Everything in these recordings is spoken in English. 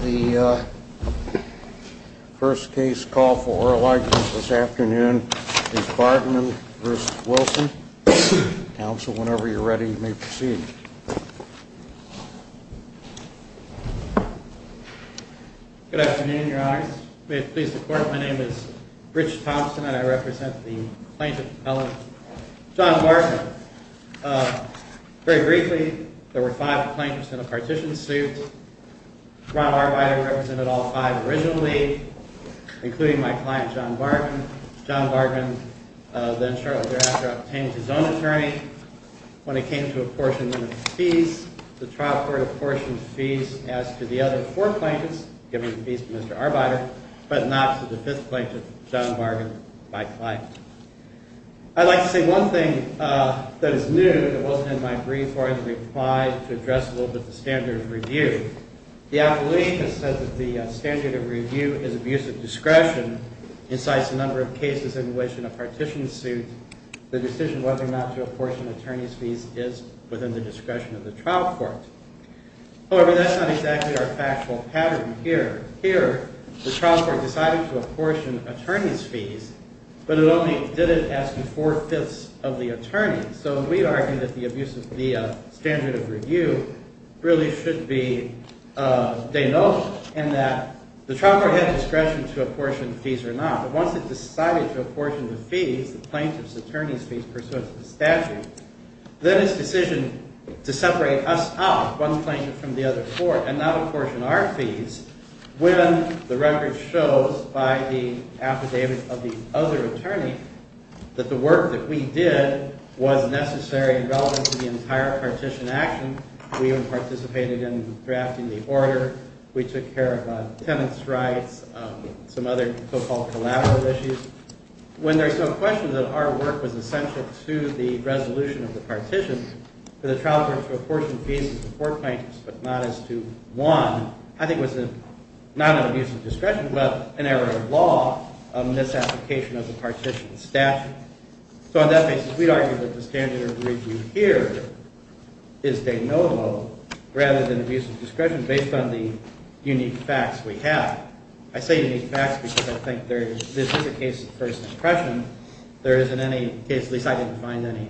The first case called for this afternoon is Bargman v. Wilson. Counsel, whenever you're ready, you may proceed. Good afternoon, Your Honor. May it please the Court, my name is Rich Thompson, and I represent the plaintiff, John Bargman. Very briefly, there were five plaintiffs in a partition suit. Ron Arbiter represented all five originally, including my client, John Bargman. John Bargman then shortly thereafter obtained his own attorney. When it came to apportionment of fees, the trial court apportioned fees as to the other four plaintiffs, given the fees to Mr. Arbiter, but not to the fifth plaintiff, John Bargman, my client. I'd like to say one thing that is new that wasn't in my brief or in the reply to address a little bit the standard of review. The appellation has said that the standard of review is abuse of discretion, incites a number of cases in which in a partition suit the decision whether or not to apportion attorney's fees is within the discretion of the trial court. However, that's not exactly our factual pattern here. Here, the trial court decided to apportion attorney's fees, but it only did it as to four-fifths of the attorney. So we argue that the abuse of the standard of review really should be denoted in that the trial court had discretion to apportion fees or not, but once it decided to apportion the fees, the plaintiff's attorney's fees pursuant to the statute, then its decision to separate us out, one plaintiff from the other four, and not apportion our fees, when the record shows by the affidavit of the other attorney that the work that we did was necessary and relevant to the entire partition action. We even participated in drafting the order. We took care of tenants' rights, some other so-called collateral issues. When there's no question that our work was essential to the resolution of the partition, for the trial court to apportion fees to four plaintiffs but not as to one, I think was not an abuse of discretion, but an error of law, a misapplication of the partition statute. So on that basis, we argue that the standard of review here is de novo rather than abuse of discretion based on the unique facts we have. I say unique facts because I think this is a case of first impression. There isn't any case, at least I didn't find any,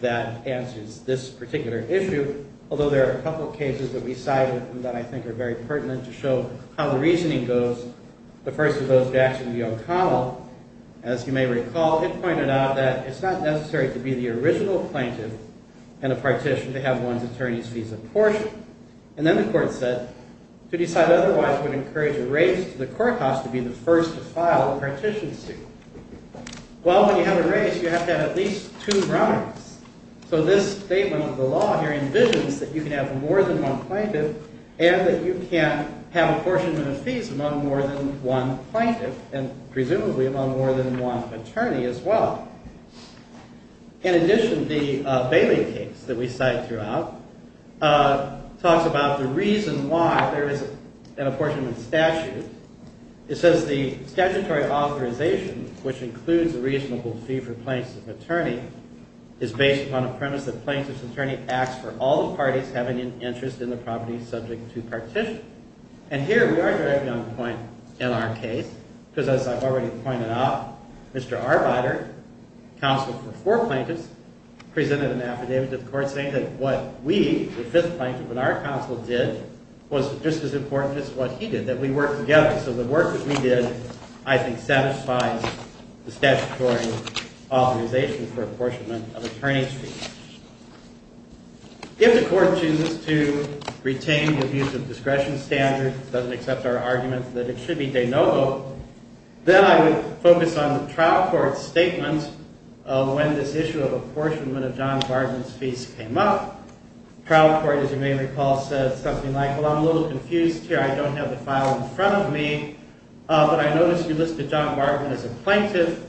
that answers this particular issue, although there are a couple of cases that we cited that I think are very pertinent to show how the reasoning goes. The first of those, Jackson v. O'Connell, as you may recall, it pointed out that it's not necessary to be the original plaintiff in a partition to have one's attorney's fees apportioned. And then the court said, to decide otherwise would encourage a race to the courthouse to be the first to file a partition suit. Well, when you have a race, you have to have at least two runners. So this statement of the law here envisions that you can have more than one plaintiff and that you can have apportionment of fees among more than one plaintiff and presumably among more than one attorney as well. In addition, the Bailey case that we cite throughout talks about the reason why there is an apportionment statute. It says the statutory authorization, which includes a reasonable fee for plaintiff's attorney, is based upon a premise that plaintiff's attorney acts for all the parties having an interest in the property subject to partition. And here we are directly on the point in our case because, as I've already pointed out, Mr. Arbeiter, counsel for four plaintiffs, presented an affidavit to the court saying that what we, the fifth plaintiff, and our counsel did was just as important as what he did, that we worked together. So the work that we did, I think, satisfies the statutory authorization for apportionment of attorney's fees. If the court chooses to retain the use of discretion standard, doesn't accept our argument that it should be de novo, then I would focus on the trial court's statement when this issue of apportionment of John Bartman's fees came up. Trial court, as you may recall, said something like, well, I'm a little confused here. I don't have the file in front of me. But I noticed you listed John Bartman as a plaintiff,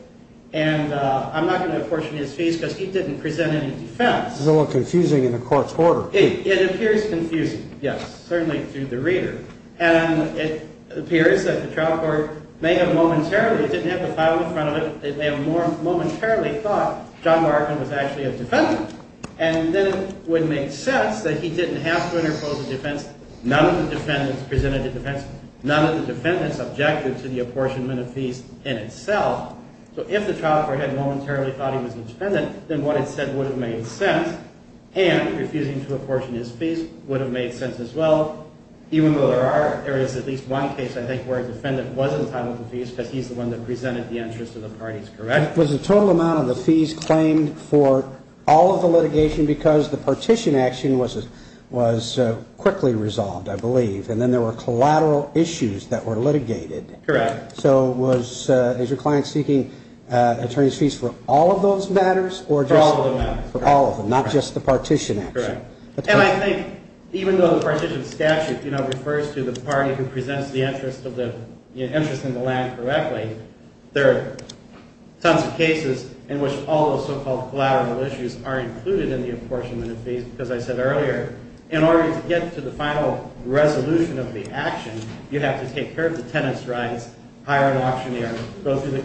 and I'm not going to apportion his fees because he didn't present any defense. It's a little confusing in the court's order. It appears confusing, yes, certainly to the reader. And it appears that the trial court may have momentarily, didn't have the file in front of it, they may have momentarily thought John Bartman was actually a defendant. And then it would make sense that he didn't have to interpose a defense. None of the defendants presented a defense. None of the defendants objected to the apportionment of fees in itself. So if the trial court had momentarily thought he was a defendant, then what it said would have made sense. And refusing to apportion his fees would have made sense as well. Even though there is at least one case, I think, where a defendant was entitled to fees because he's the one that presented the interest of the parties, correct? Was the total amount of the fees claimed for all of the litigation because the partition action was quickly resolved, I believe. And then there were collateral issues that were litigated. Correct. So was, as your client is speaking, attorney's fees for all of those matters or just for all of them, not just the partition action? Correct. And I think even though the partition statute, you know, refers to the party who presents the interest in the land correctly, there are tons of cases in which all those so-called collateral issues are included in the apportionment of fees. Because I said earlier, in order to get to the final resolution of the action, you have to take care of the tenant's rights, hire an auctioneer, go through the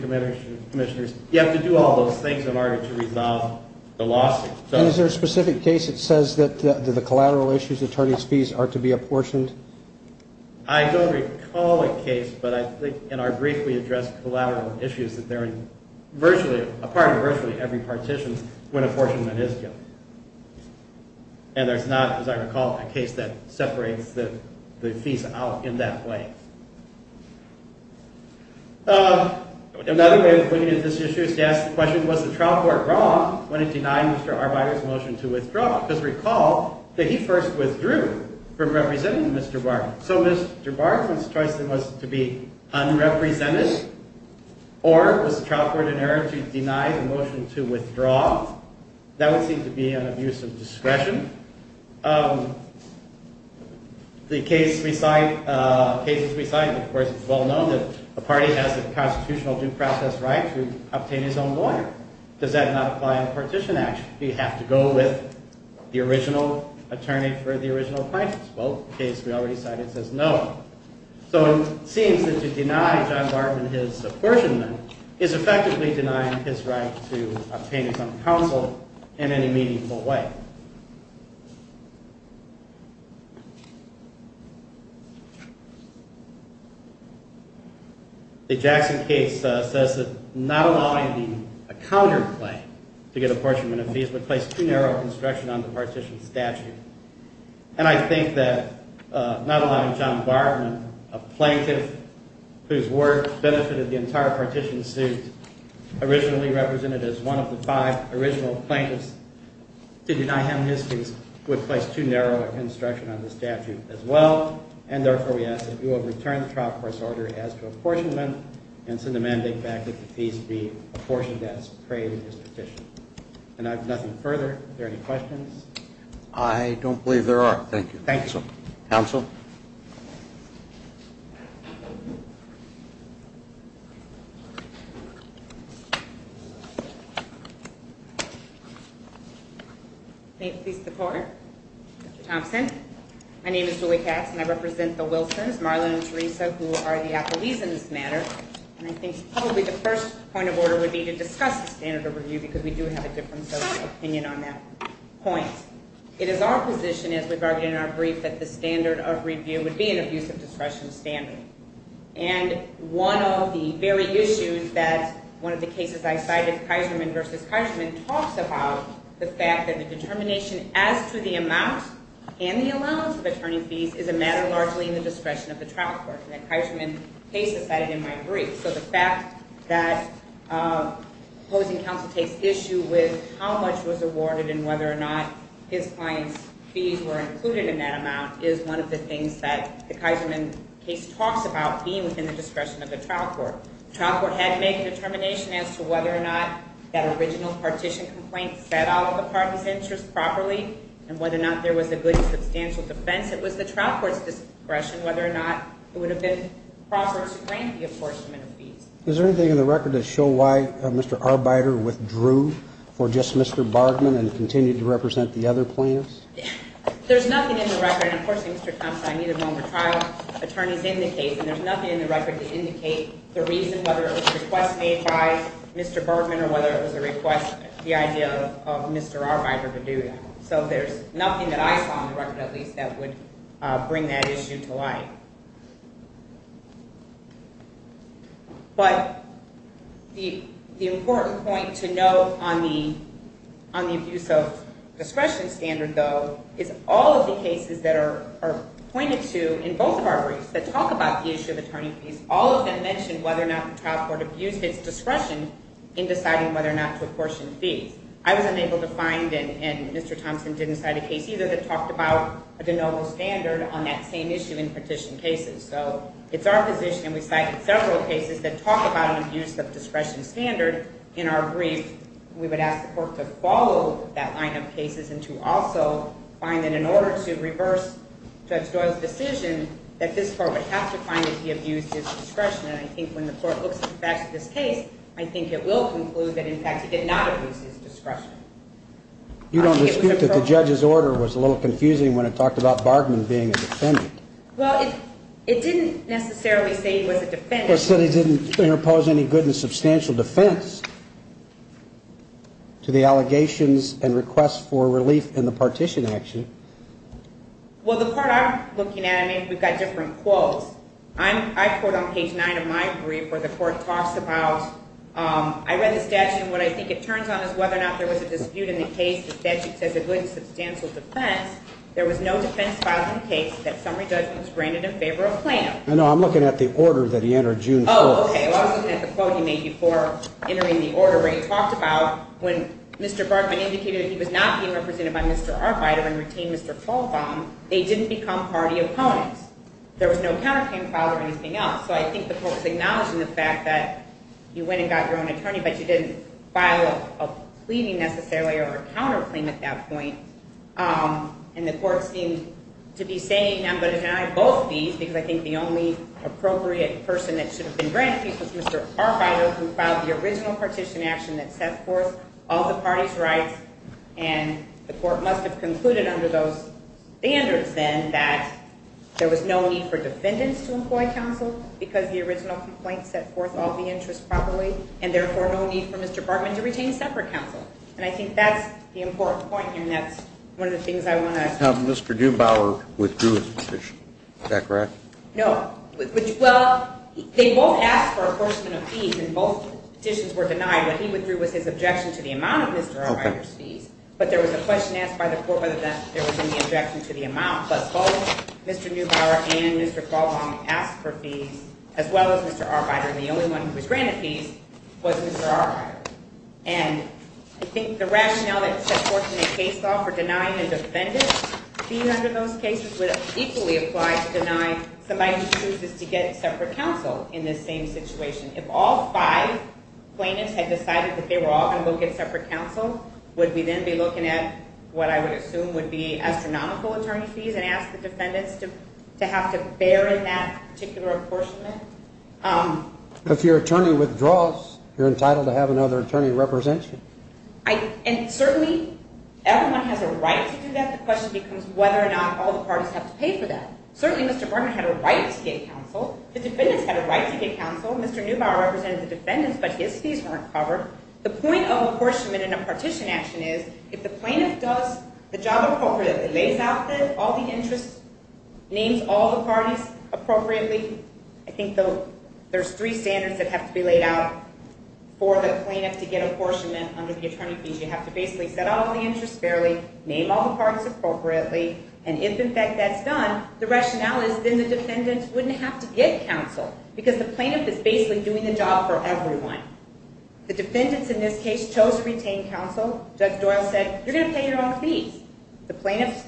commissioners. You have to do all those things in order to resolve the lawsuit. And is there a specific case that says that the collateral issues, attorney's fees, are to be apportioned? I don't recall a case, but I think in our brief, we addressed collateral issues that they're a part of virtually every partition when apportionment is given. And there's not, as I recall, a case that separates the fees out in that way. Another way of looking at this issue is to ask the question, was the trial court wrong when it denied Mr. Arbeiter's motion to withdraw? Because recall that he first withdrew from representing Mr. Barton. So Mr. Barton's choice was to be unrepresented, or was the trial court in error to deny the motion to withdraw? That would seem to be an abuse of discretion. The cases we cite, of course, it's well known that a party has the constitutional due process right to obtain his own lawyer. Does that not apply in a partition action? Do you have to go with the original attorney for the original plaintiffs? Well, the case we already cited says no. So it seems that to deny John Barton his apportionment is effectively denying his right to obtain his own counsel in any meaningful way. The Jackson case says that not allowing a counterplay to get apportionment of fees would place too narrow a constriction on the partition statute. And I think that not allowing John Barton, a plaintiff whose work benefited the entire partition suit, originally represented as one of the five original plaintiffs to deny him his fees, would place too narrow a constriction on the statute as well. And therefore, we ask that you will return the trial court's order as to apportionment and send a mandate back that the fees be apportioned as prayed in his partition. And I have nothing further. Are there any questions? I don't believe there are. Thank you. Thank you. Counsel? May it please the court? Mr. Thompson? My name is Julie Katz, and I represent the Wilsons, Marlon and Teresa, who are the accolades in this matter. And I think probably the first point of order would be to discuss the standard of review because we do have a difference of opinion on that point. It is our position, as we've argued in our brief, that the standard of review would be an abuse of discretion standard. And one of the very issues that one of the cases I cited, Kaiserman v. Kaiserman, talks about the fact that the determination as to the amount and the allowance of attorney fees is a matter largely in the discretion of the trial court. So the fact that opposing counsel takes issue with how much was awarded and whether or not his client's fees were included in that amount is one of the things that the Kaiserman case talks about being within the discretion of the trial court. The trial court had to make a determination as to whether or not that original partition complaint set out the parties' interests properly and whether or not there was a good substantial defense. It was the trial court's discretion whether or not it would have been proper to grant the apportionment of fees. Is there anything in the record to show why Mr. Arbeiter withdrew for just Mr. Bergman and continued to represent the other plaintiffs? There's nothing in the record. And, of course, Mr. Thompson, I need a moment. Trial attorneys indicate, and there's nothing in the record to indicate the reason whether it was a request made by Mr. Bergman or whether it was a request, the idea of Mr. Arbeiter to do that. So there's nothing that I saw in the record, at least, that would bring that issue to light. But the important point to note on the abuse of discretion standard, though, is all of the cases that are pointed to in both of our briefs that talk about the issue of attorney fees, all of them mention whether or not the trial court abused its discretion in deciding whether or not to apportion fees. I was unable to find, and Mr. Thompson didn't cite a case either that talked about a de novo standard on that same issue in petition cases. So it's our position, and we cited several cases that talk about an abuse of discretion standard in our brief. We would ask the court to follow that line of cases and to also find that in order to reverse Judge Doyle's decision, that this court would have to find that he abused his discretion. And I think when the court looks at the facts of this case, I think it will conclude that, in fact, he did not abuse his discretion. You don't dispute that the judge's order was a little confusing when it talked about Bergman being a defendant. Well, it didn't necessarily say he was a defendant. It said he didn't impose any good and substantial defense to the allegations and requests for relief in the partition action. Well, the part I'm looking at, I mean, we've got different quotes. I quote on page 9 of my brief where the court talks about, I read the statute, and what I think it turns on is whether or not there was a dispute in the case. The statute says a good and substantial defense. There was no defense filed in the case that summary judgment was granted in favor of Plano. No, no, I'm looking at the order that he entered June 4th. Oh, okay, well, I was looking at the quote he made before entering the order where he talked about when Mr. Bergman indicated that he was not being represented by Mr. Arvido and retained Mr. Fulvon, they didn't become party opponents. There was no counterclaim filed or anything else. So I think the court was acknowledging the fact that you went and got your own attorney, but you didn't file a pleading necessarily or a counterclaim at that point. And the court seemed to be saying, I'm going to deny both these, because I think the only appropriate person that should have been granted peace was Mr. Arvido, who filed the original partition action that set forth all the parties' rights. And the court must have concluded under those standards, then, that there was no need for defendants to employ counsel because the original complaint set forth all the interests properly, and therefore no need for Mr. Bergman to retain separate counsel. And I think that's the important point, and that's one of the things I want to ask. Mr. Dubower withdrew his petition. Is that correct? No. Well, they both asked for a portion of these, and both petitions were denied. What he withdrew was his objection to the amount of Mr. Arvido's fees, but there was a question asked by the court whether or not there was any objection to the amount. But both Mr. Dubower and Mr. Caldwell asked for fees, as well as Mr. Arvido, and the only one who was granted peace was Mr. Arvido. And I think the rationale that set forth in the case law for denying a defendant fees under those cases would equally apply to deny somebody who chooses to get separate counsel in this same situation. If all five plaintiffs had decided that they were all going to look at separate counsel, would we then be looking at what I would assume would be astronomical attorney fees and ask the defendants to have to bear in that particular apportionment? If your attorney withdraws, you're entitled to have another attorney representation. And certainly everyone has a right to do that. The question becomes whether or not all the parties have to pay for that. Certainly Mr. Bergman had a right to get counsel. The defendants had a right to get counsel. Mr. Dubower represented the defendants, but his fees weren't covered. The point of apportionment in a partition action is if the plaintiff does the job appropriately, lays out all the interests, names all the parties appropriately, I think there's three standards that have to be laid out for the plaintiff to get apportionment under the attorney fees. You have to basically set out all the interests fairly, name all the parties appropriately, and if, in fact, that's done, the rationale is then the defendants wouldn't have to get counsel because the plaintiff is basically doing the job for everyone. The defendants in this case chose to retain counsel. Judge Doyle said, you're going to pay your own fees. The plaintiff's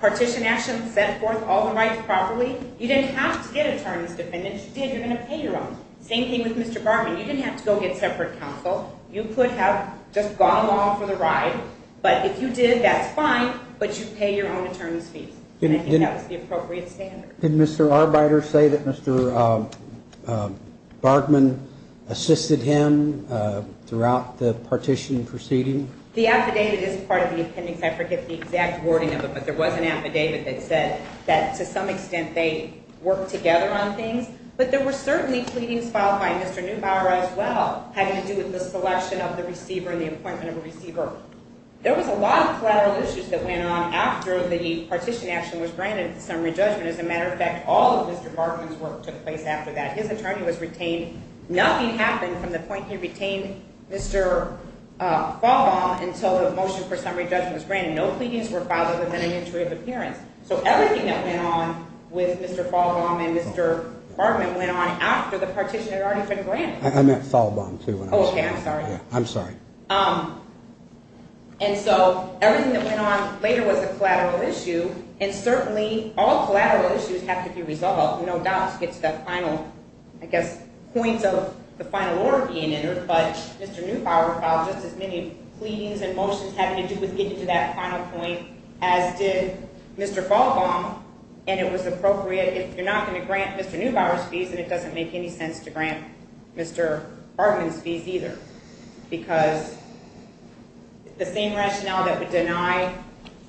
partition action set forth all the rights properly. You didn't have to get attorney's defendants. You did, you're going to pay your own. Same thing with Mr. Bergman. You didn't have to go get separate counsel. You could have just gone along for the ride, but if you did, that's fine, but you pay your own attorney's fees. And I think that was the appropriate standard. Did Mr. Arbeiter say that Mr. Bergman assisted him throughout the partition proceeding? The affidavit is part of the appendix. I forget the exact wording of it, but there was an affidavit that said that to some extent they worked together on things, but there were certainly pleadings filed by Mr. Neubauer as well having to do with the selection of the receiver and the appointment of a receiver. There was a lot of collateral issues that went on after the partition action was granted for summary judgment. As a matter of fact, all of Mr. Bergman's work took place after that. His attorney was retained. Nothing happened from the point he retained Mr. Fahlbaum until the motion for summary judgment was granted. No pleadings were filed other than an entry of appearance. So everything that went on with Mr. Fahlbaum and Mr. Bergman went on after the partition had already been granted. I meant Fahlbaum, too. Oh, okay, I'm sorry. I'm sorry. And so everything that went on later was a collateral issue, and certainly all collateral issues have to be resolved. No doubt it gets to that final, I guess, point of the final order being entered, but Mr. Neubauer filed just as many pleadings and motions having to do with getting to that final point as did Mr. Fahlbaum, and it was appropriate. If you're not going to grant Mr. Neubauer's fees, then it doesn't make any sense to grant Mr. Bergman's fees either because the same rationale that would deny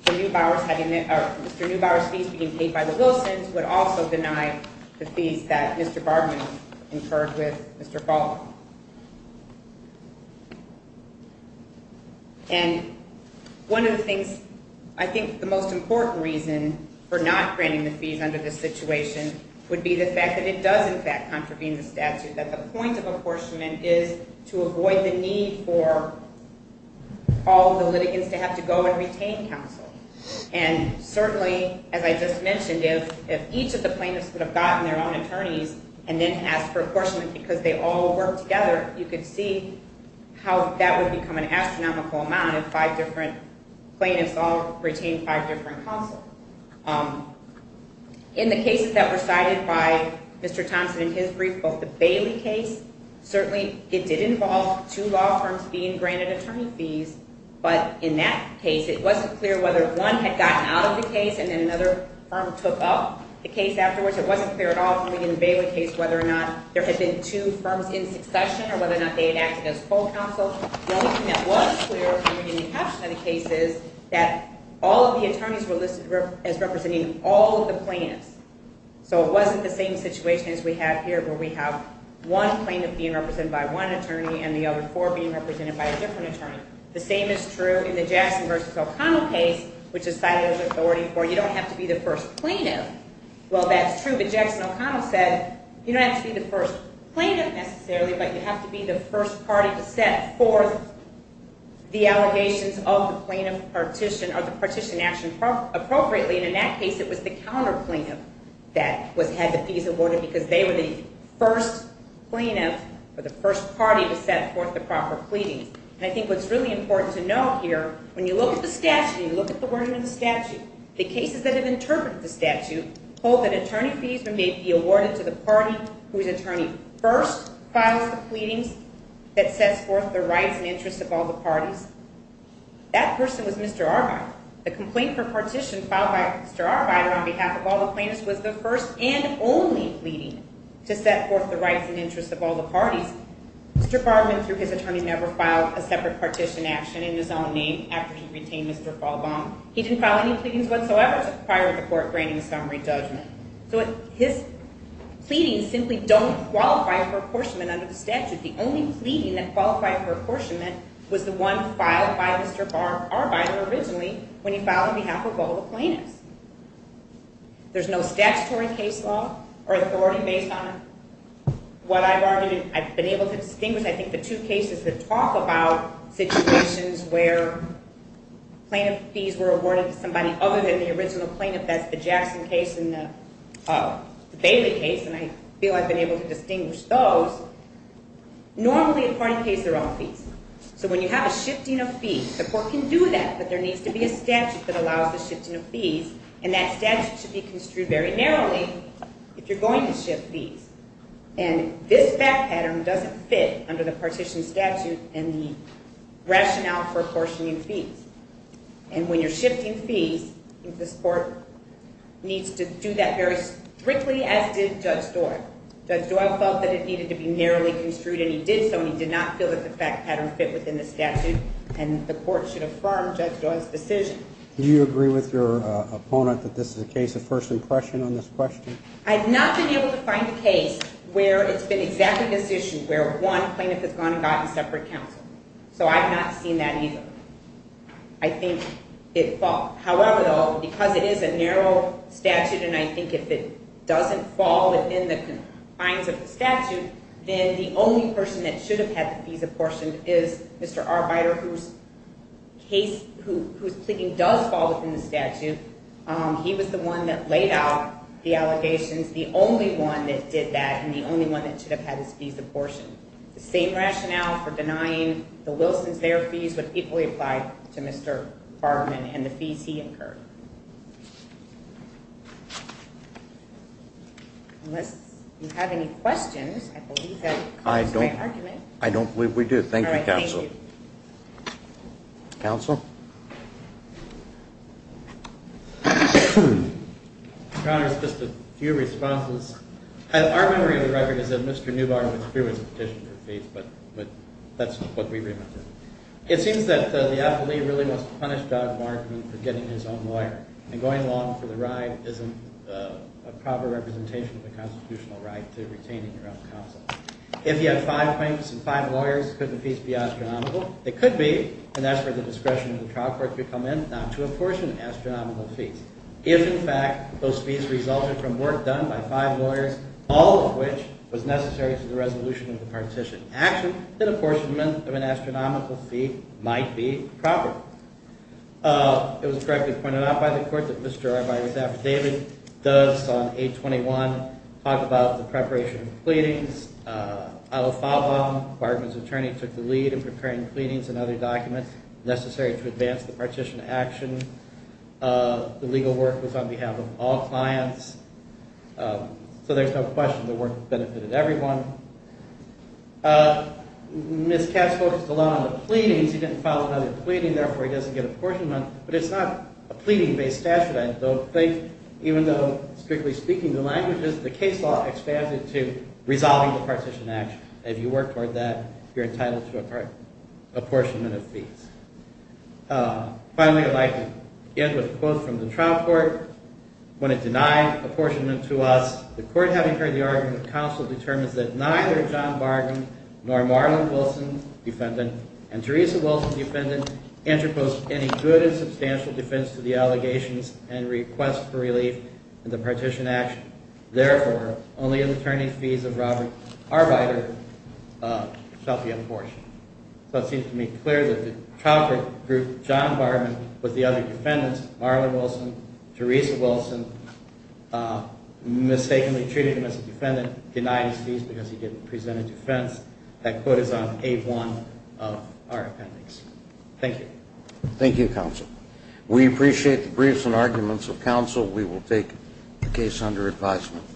Mr. Neubauer's fees being paid by the Wilsons would also deny the fees that Mr. Bergman incurred with Mr. Fahlbaum. And one of the things I think the most important reason for not granting the fees under this situation would be the fact that it does, in fact, contravene the statute, that the point of apportionment is to avoid the need for all the litigants to have to go and retain counsel. And certainly, as I just mentioned, if each of the plaintiffs would have gotten their own attorneys and then asked for apportionment because they all worked together, you could see how that would become an astronomical amount if five different plaintiffs all retained five different counsel. In the cases that were cited by Mr. Thompson in his brief, both the Bailey case, certainly it did involve two law firms being granted attorney fees, but in that case it wasn't clear whether one had gotten out of the case and then another firm took up the case afterwards. It wasn't clear at all in the Bailey case whether or not there had been two firms in succession or whether or not they had acted as full counsel. The only thing that was clear in the caption of the case is that all of the attorneys were listed as representing all of the plaintiffs. So it wasn't the same situation as we have here where we have one plaintiff being represented by one attorney and the other four being represented by a different attorney. The same is true in the Jackson v. O'Connell case, which is cited as authority for you don't have to be the first plaintiff. Well, that's true, but Jackson O'Connell said you don't have to be the first plaintiff necessarily, but you have to be the first party to set forth the allegations of the plaintiff partition or the partition action appropriately, and in that case it was the counterplaintiff that had the fees awarded because they were the first plaintiff or the first party to set forth the proper pleadings. And I think what's really important to note here, when you look at the statute, when you look at the wording of the statute, the cases that have interpreted the statute hold that attorney fees may be awarded to the party whose attorney first files the pleadings that sets forth the rights and interests of all the parties. That person was Mr. Arbeiter. The complaint for partition filed by Mr. Arbeiter on behalf of all the plaintiffs was the first and only pleading to set forth the rights and interests of all the parties. Mr. Bargmann, through his attorney, never filed a separate partition action in his own name after he retained Mr. Falbaum. He didn't file any pleadings whatsoever prior to court granting summary judgment. So his pleadings simply don't qualify for apportionment under the statute. The only pleading that qualified for apportionment was the one filed by Mr. Arbeiter originally when he filed on behalf of all the plaintiffs. There's no statutory case law or authority based on what I've argued. I've been able to distinguish, I think, the two cases that talk about situations where plaintiff fees were awarded to somebody other than the original plaintiff. That's the Jackson case and the Bailey case, and I feel I've been able to distinguish those. Normally, a party pays their own fees. So when you have a shifting of fees, the court can do that, but there needs to be a statute that allows the shifting of fees, and that statute should be construed very narrowly if you're going to shift fees. And this fact pattern doesn't fit under the partition statute and the rationale for apportioning fees. And when you're shifting fees, this court needs to do that very strictly as did Judge Doyle. Judge Doyle felt that it needed to be narrowly construed, and he did so, and he did not feel that the fact pattern fit within the statute, and the court should affirm Judge Doyle's decision. Do you agree with your opponent that this is a case of first impression on this question? I've not been able to find a case where it's been exactly this issue, where one plaintiff has gone and gotten separate counsel. So I've not seen that either. I think it falls. However, though, because it is a narrow statute, and I think if it doesn't fall within the confines of the statute, then the only person that should have had the fees apportioned is Mr. Arbeiter, whose case, whose pleading does fall within the statute. He was the one that laid out the allegations, the only one that did that, and the only one that should have had his fees apportioned. The same rationale for denying the Wilsons their fees would equally apply to Mr. Farberman and the fees he incurred. Unless you have any questions, I believe that concludes my argument. Thank you, counsel. Counsel? Your Honor, just a few responses. Our memory of the record is that Mr. Newbar withdrew his petition for fees, but that's what we remember. It seems that the appellee really wants to punish Dodd-Wargman for getting his own lawyer, and going along for the ride isn't a proper representation of the constitutional right to retain your own counsel. If he had five claims and five lawyers, could the fees be astronomical? They could be, and that's where the discretion of the trial court could come in not to apportion astronomical fees. If, in fact, those fees resulted from work done by five lawyers, all of which was necessary to the resolution of the partition action, then apportionment of an astronomical fee might be proper. It was correctly pointed out by the court that Mr. Arbeiter's affidavit does on 821 talk about the preparation of pleadings. Al-Fawwam, Bargman's attorney, took the lead in preparing pleadings and other documents necessary to advance the partition action. The legal work was on behalf of all clients, so there's no question the work benefited everyone. Ms. Katz focused a lot on the pleadings. He didn't file another pleading, therefore he doesn't get apportionment, but it's not a pleading-based statute, I don't think, even though, strictly speaking, the case law expands it to resolving the partition action. If you work toward that, you're entitled to apportionment of fees. Finally, I'd like to end with a quote from the trial court. When it denied apportionment to us, the court, having heard the argument, counsel determines that neither John Bargman nor Marlon Wilson, defendant, and Teresa Wilson, defendant, interpose any good and substantial defense to the allegations and request for relief in the partition action. Therefore, only an attorney's fees of Robert Arbeiter shall be apportioned. So it seems to me clear that the trial court group, John Bargman with the other defendants, Marlon Wilson, Teresa Wilson, mistakenly treated him as a defendant, denied his fees because he didn't present a defense. That quote is on page 1 of our appendix. Thank you. Thank you, counsel. We appreciate the briefs and arguments of counsel. We will take the case under advisement.